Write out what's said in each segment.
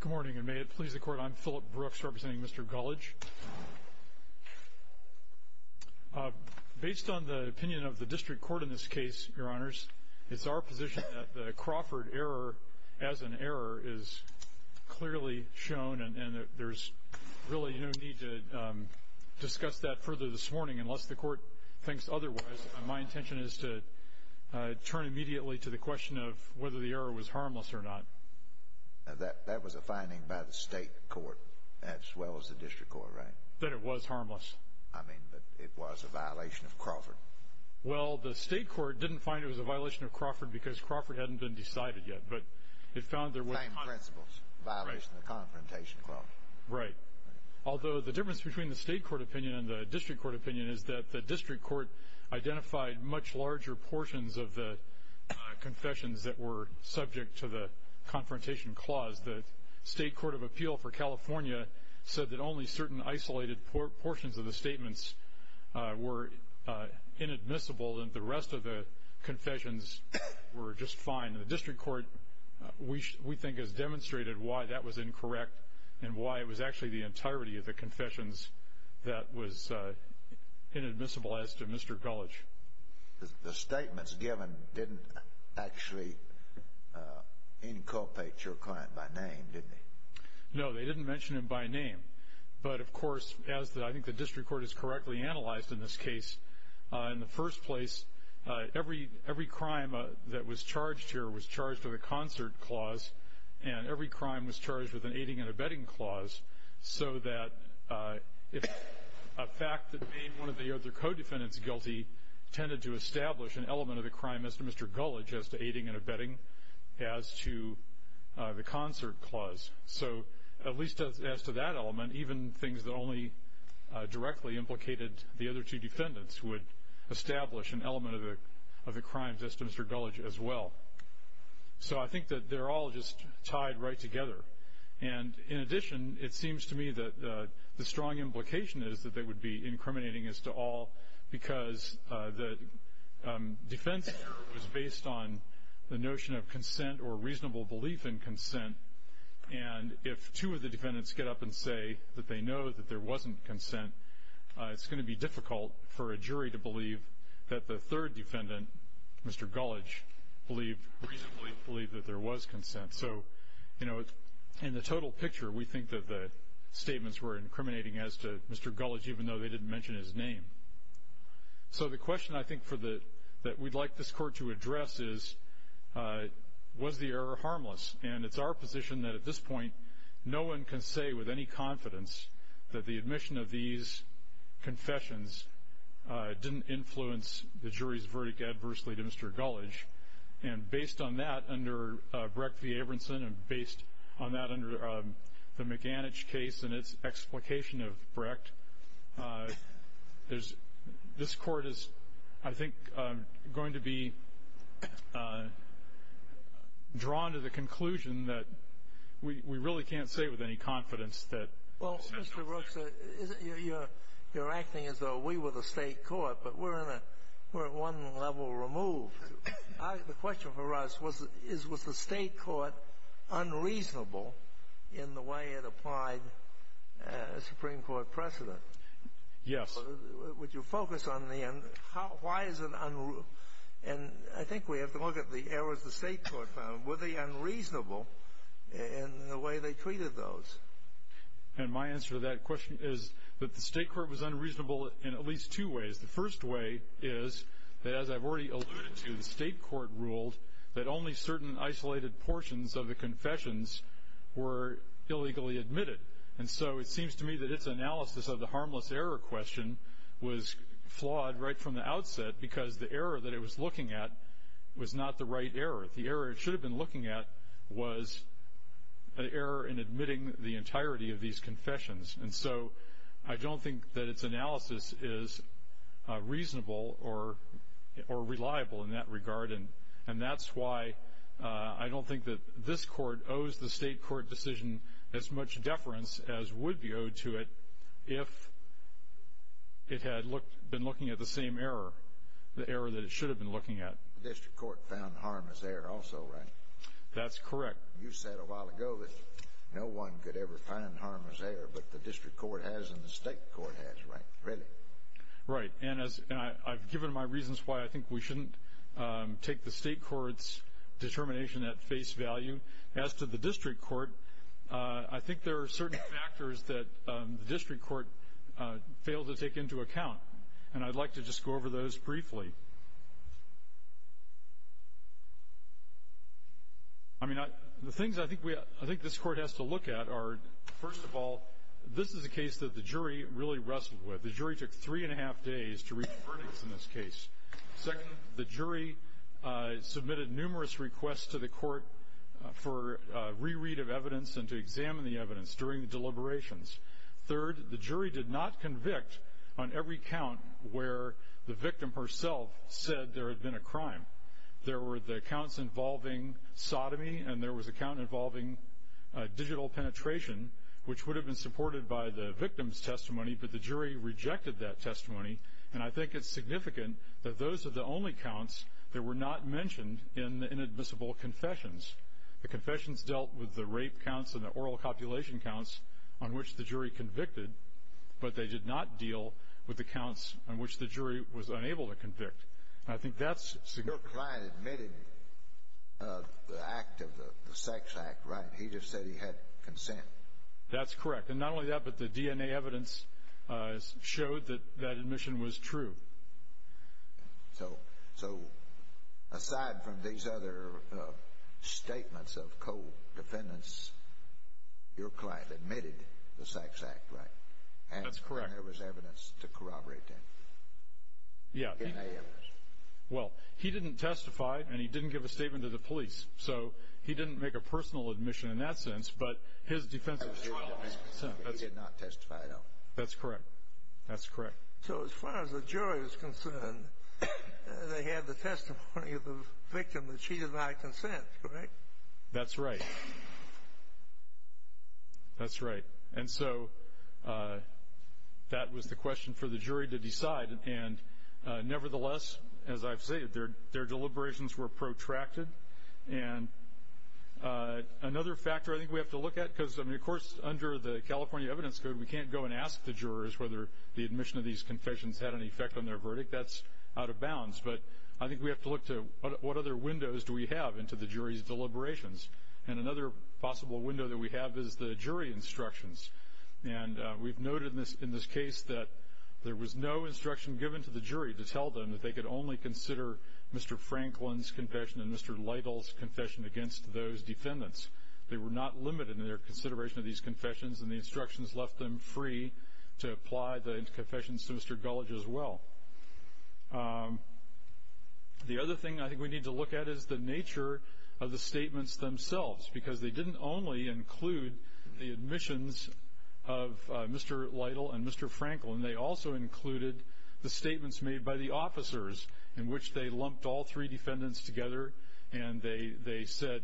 Good morning, and may it please the Court, I'm Philip Brooks, representing Mr. Gulledge. Based on the opinion of the District Court in this case, Your Honors, it's our position that the Crawford error as an error is clearly shown, and there's really no need to discuss that further this morning unless the Court thinks otherwise. My intention is to turn immediately to the question of whether the error was harmless or not. That was a finding by the State Court as well as the District Court, right? That it was harmless. I mean, but it was a violation of Crawford. Well, the State Court didn't find it was a violation of Crawford because Crawford hadn't been decided yet, but it found there was Same principles, violation of the Confrontation Clause. Right. Although the difference between the State Court opinion and the District Court opinion is that the District Court identified much larger portions of the confessions that were subject to the Confrontation Clause. The State Court of Appeal for California said that only certain isolated portions of the statements were inadmissible, and the rest of the confessions were just fine. The District Court, we think, has demonstrated why that was incorrect and why it was actually the entirety of the confessions that was inadmissible as to Mr. Gulledge. The statements given didn't actually inculpate your client by name, did they? No, they didn't mention him by name. But, of course, as I think the District Court has correctly analyzed in this case, in the first place, every crime that was charged here was charged with a concert clause, and every crime was charged with an aiding and abetting clause, so that if a fact that made one of the other co-defendants guilty tended to establish an element of the crime as to Mr. Gulledge, as to aiding and abetting, as to the concert clause. So, at least as to that element, even things that only directly implicated the other two defendants would establish an element of the crime as to Mr. Gulledge as well. So I think that they're all just tied right together. And, in addition, it seems to me that the strong implication is that they would be incriminating as to all because the defense here was based on the notion of consent or reasonable belief in consent, and if two of the defendants get up and say that they know that there wasn't consent, it's going to be difficult for a jury to believe that the third defendant, Mr. Gulledge, reasonably believed that there was consent. So, you know, in the total picture, we think that the statements were incriminating as to Mr. Gulledge, even though they didn't mention his name. So the question, I think, that we'd like this Court to address is, was the error harmless? And it's our position that, at this point, no one can say with any confidence that the admission of these confessions didn't influence the jury's verdict adversely to Mr. Gulledge. And based on that, under Brecht v. Abramson, and based on that under the McAninch case and its explication of Brecht, this Court is, I think, going to be drawn to the conclusion that we really can't say with any confidence that Mr. Gulledge. You're acting as though we were the State Court, but we're at one level removed. The question for us is, was the State Court unreasonable in the way it applied a Supreme Court precedent? Yes. Would you focus on the end? Why is it unreasonable? And I think we have to look at the errors the State Court found. Were they unreasonable in the way they treated those? And my answer to that question is that the State Court was unreasonable in at least two ways. The first way is that, as I've already alluded to, the State Court ruled that only certain isolated portions of the confessions were illegally admitted. And so it seems to me that its analysis of the harmless error question was flawed right from the outset because the error that it was looking at was not the right error. The error it should have been looking at was an error in admitting the entirety of these confessions. And so I don't think that its analysis is reasonable or reliable in that regard, and that's why I don't think that this Court owes the State Court decision as much deference as would be owed to it if it had been looking at the same error, the error that it should have been looking at. The District Court found harmless error also, right? That's correct. You said a while ago that no one could ever find harmless error, but the District Court has and the State Court has, right? Really? Right. And I've given my reasons why I think we shouldn't take the State Court's determination at face value. As to the District Court, I think there are certain factors that the District Court failed to take into account, and I'd like to just go over those briefly. I mean, the things I think this Court has to look at are, first of all, this is a case that the jury really wrestled with. The jury took three and a half days to reach a verdict in this case. Second, the jury submitted numerous requests to the Court for reread of evidence and to examine the evidence during deliberations. Third, the jury did not convict on every count where the victim herself said there had been a crime. There were the counts involving sodomy and there was a count involving digital penetration, which would have been supported by the victim's testimony, but the jury rejected that testimony, and I think it's significant that those are the only counts that were not mentioned in the inadmissible confessions. The confessions dealt with the rape counts and the oral copulation counts on which the jury convicted, but they did not deal with the counts on which the jury was unable to convict, and I think that's significant. Your client admitted the act of the sex act, right? He just said he had consent. That's correct, and not only that, but the DNA evidence showed that that admission was true. So, aside from these other statements of co-defendants, your client admitted the sex act, right? That's correct. And there was evidence to corroborate that DNA evidence. Yeah, well, he didn't testify and he didn't give a statement to the police, so he didn't make a personal admission in that sense, but his defense was true. He did not testify at all. That's correct. That's correct. So, as far as the jury is concerned, they had the testimony of the victim that cheated by consent, correct? That's right. That's right, and so that was the question for the jury to decide, and nevertheless, as I've stated, their deliberations were protracted. And another factor I think we have to look at, because, I mean, of course, under the California Evidence Code, we can't go and ask the jurors whether the admission of these confessions had any effect on their verdict. That's out of bounds, but I think we have to look to what other windows do we have into the jury's deliberations. And another possible window that we have is the jury instructions, and we've noted in this case that there was no instruction given to the jury to tell them that they could only consider Mr. Franklin's confession and Mr. Lytle's confession against those defendants. They were not limited in their consideration of these confessions, and the instructions left them free to apply the confessions to Mr. Gulledge as well. The other thing I think we need to look at is the nature of the statements themselves, because they didn't only include the admissions of Mr. Lytle and Mr. Franklin. They also included the statements made by the officers, in which they lumped all three defendants together, and they said,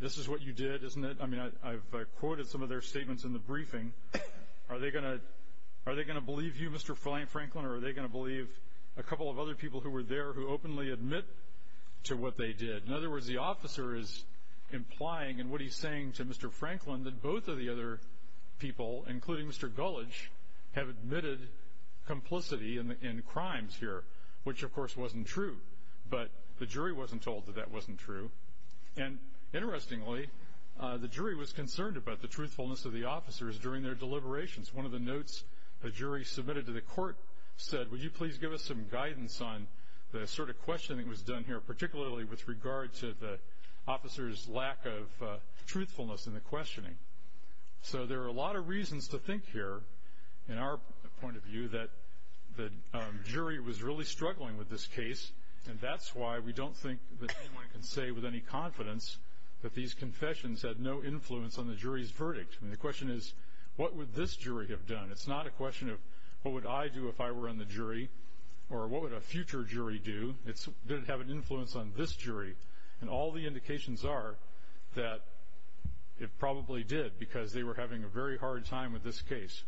this is what you did, isn't it? I mean, I've quoted some of their statements in the briefing. Are they going to believe you, Mr. Franklin, or are they going to believe a couple of other people who were there who openly admit to what they did? In other words, the officer is implying in what he's saying to Mr. Franklin that both of the other people, including Mr. Gulledge, have admitted complicity in crimes here, which, of course, wasn't true. But the jury wasn't told that that wasn't true. And interestingly, the jury was concerned about the truthfulness of the officers during their deliberations. One of the notes the jury submitted to the court said, would you please give us some guidance on the sort of questioning that was done here, particularly with regard to the officers' lack of truthfulness in the questioning. So there are a lot of reasons to think here, in our point of view, that the jury was really struggling with this case, and that's why we don't think that anyone can say with any confidence that these confessions had no influence on the jury's verdict. I mean, the question is, what would this jury have done? It's not a question of, what would I do if I were on the jury, or what would a future jury do? Did it have an influence on this jury? And all the indications are that it probably did, because they were having a very hard time with this case.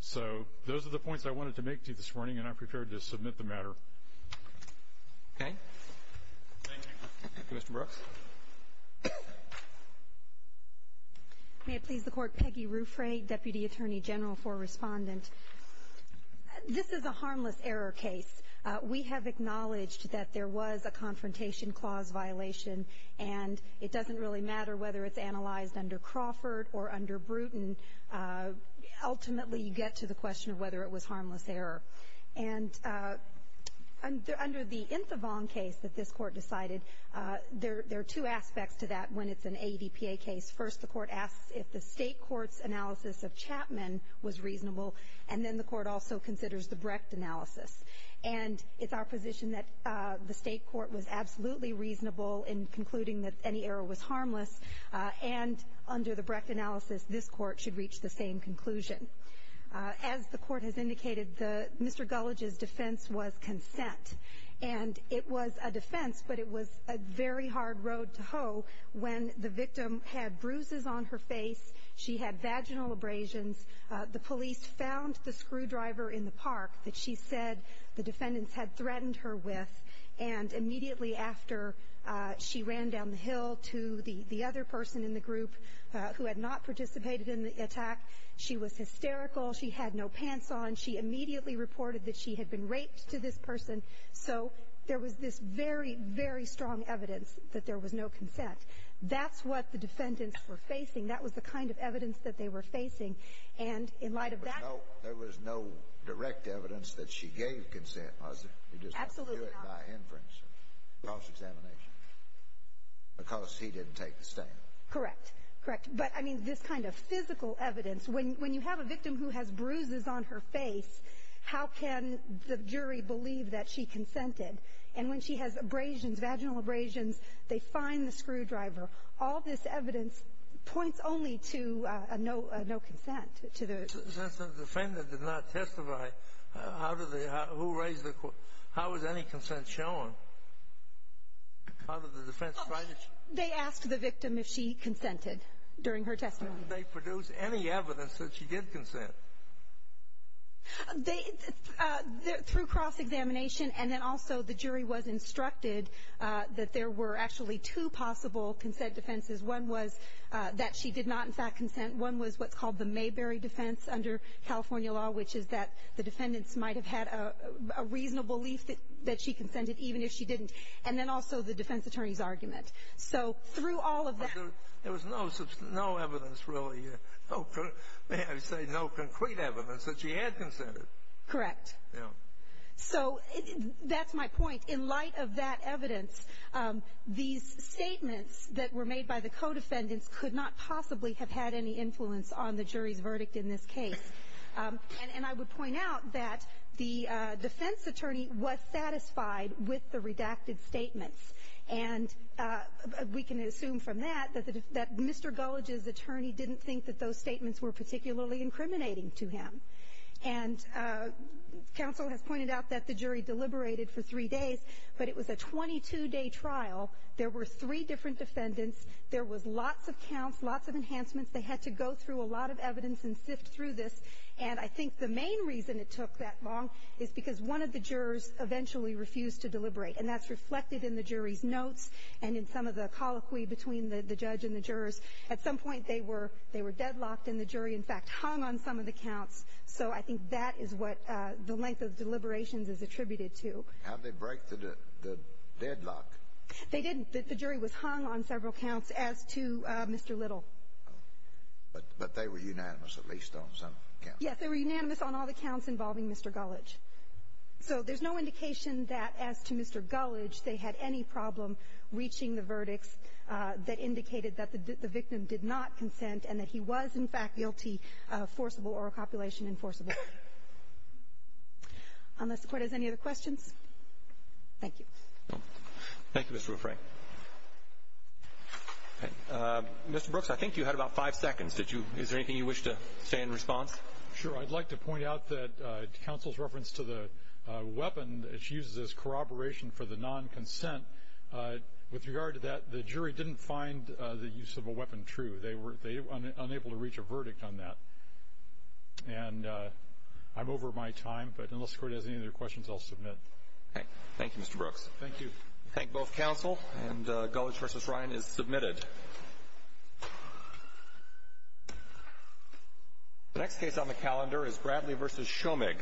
So those are the points I wanted to make to you this morning, and I'm prepared to submit the matter. Okay. Thank you. Commissioner Brooks. May it please the Court, Peggy Ruffray, Deputy Attorney General for Respondent. This is a harmless error case. We have acknowledged that there was a confrontation clause violation, and it doesn't really matter whether it's analyzed under Crawford or under Bruton. Ultimately, you get to the question of whether it was harmless error. And under the Infovon case that this Court decided, there are two aspects to that when it's an ADPA case. First, the Court asks if the State court's analysis of Chapman was reasonable, and then the Court also considers the Brecht analysis. And it's our position that the State court was absolutely reasonable in concluding that any error was harmless, and under the Brecht analysis, this Court should reach the same conclusion. As the Court has indicated, Mr. Gulledge's defense was consent. And it was a defense, but it was a very hard road to hoe. When the victim had bruises on her face, she had vaginal abrasions, the police found the screwdriver in the park that she said the defendants had threatened her with, and immediately after, she ran down the hill to the other person in the group who had not participated in the attack. She was hysterical. She had no pants on. She immediately reported that she had been raped to this person. So there was this very, very strong evidence that there was no consent. That's what the defendants were facing. That was the kind of evidence that they were facing. And in light of that ---- But no, there was no direct evidence that she gave consent, was there? Absolutely not. You just have to do it by inference, cross-examination, because he didn't take the stand. Correct. Correct. But, I mean, this kind of physical evidence, when you have a victim who has bruises on her face, how can the jury believe that she consented? And when she has abrasions, vaginal abrasions, they find the screwdriver. All this evidence points only to no consent to the ---- Since the defendant did not testify, how did they ---- who raised the ---- how was any consent shown? How did the defense find it? They asked the victim if she consented during her testimony. Did they produce any evidence that she did consent? They ---- through cross-examination, and then also the jury was instructed that there were actually two possible consent defenses. One was that she did not, in fact, consent. One was what's called the Mayberry defense under California law, which is that the defendants might have had a reasonable belief that she consented, even if she didn't. And then also the defense attorney's argument. So through all of that ---- There was no evidence really, may I say, no concrete evidence that she had consented. Correct. Yeah. So that's my point. In light of that evidence, these statements that were made by the co-defendants could not possibly have had any influence on the jury's verdict in this case. And I would point out that the defense attorney was satisfied with the redacted statements. And we can assume from that that Mr. Gulledge's attorney didn't think that those statements were particularly incriminating to him. And counsel has pointed out that the jury deliberated for three days, but it was a 22-day trial. There were three different defendants. There was lots of counts, lots of enhancements. They had to go through a lot of evidence and sift through this. And I think the main reason it took that long is because one of the jurors eventually refused to deliberate. And that's reflected in the jury's notes and in some of the colloquy between the judge and the jurors. At some point, they were deadlocked and the jury, in fact, hung on some of the counts. So I think that is what the length of deliberations is attributed to. How did they break the deadlock? They didn't. The jury was hung on several counts as to Mr. Little. But they were unanimous at least on some counts. Yes, they were unanimous on all the counts involving Mr. Gulledge. So there's no indication that, as to Mr. Gulledge, they had any problem reaching the verdicts that indicated that the victim did not consent and that he was, in fact, guilty, forcible or a copulation enforceable. Unless the Court has any other questions. Thank you. Thank you, Mr. Ruffray. Mr. Brooks, I think you had about five seconds. Did you — is there anything you wish to say in response? Sure. I'd like to point out that counsel's reference to the weapon that she uses as corroboration for the non-consent, with regard to that, the jury didn't find the use of a weapon true. They were unable to reach a verdict on that. And I'm over my time, but unless the Court has any other questions, I'll submit. Okay. Thank you, Mr. Brooks. Thank you. Thank both counsel. And Gulledge v. Ryan is submitted. The next case on the calendar is Bradley v. Shomig.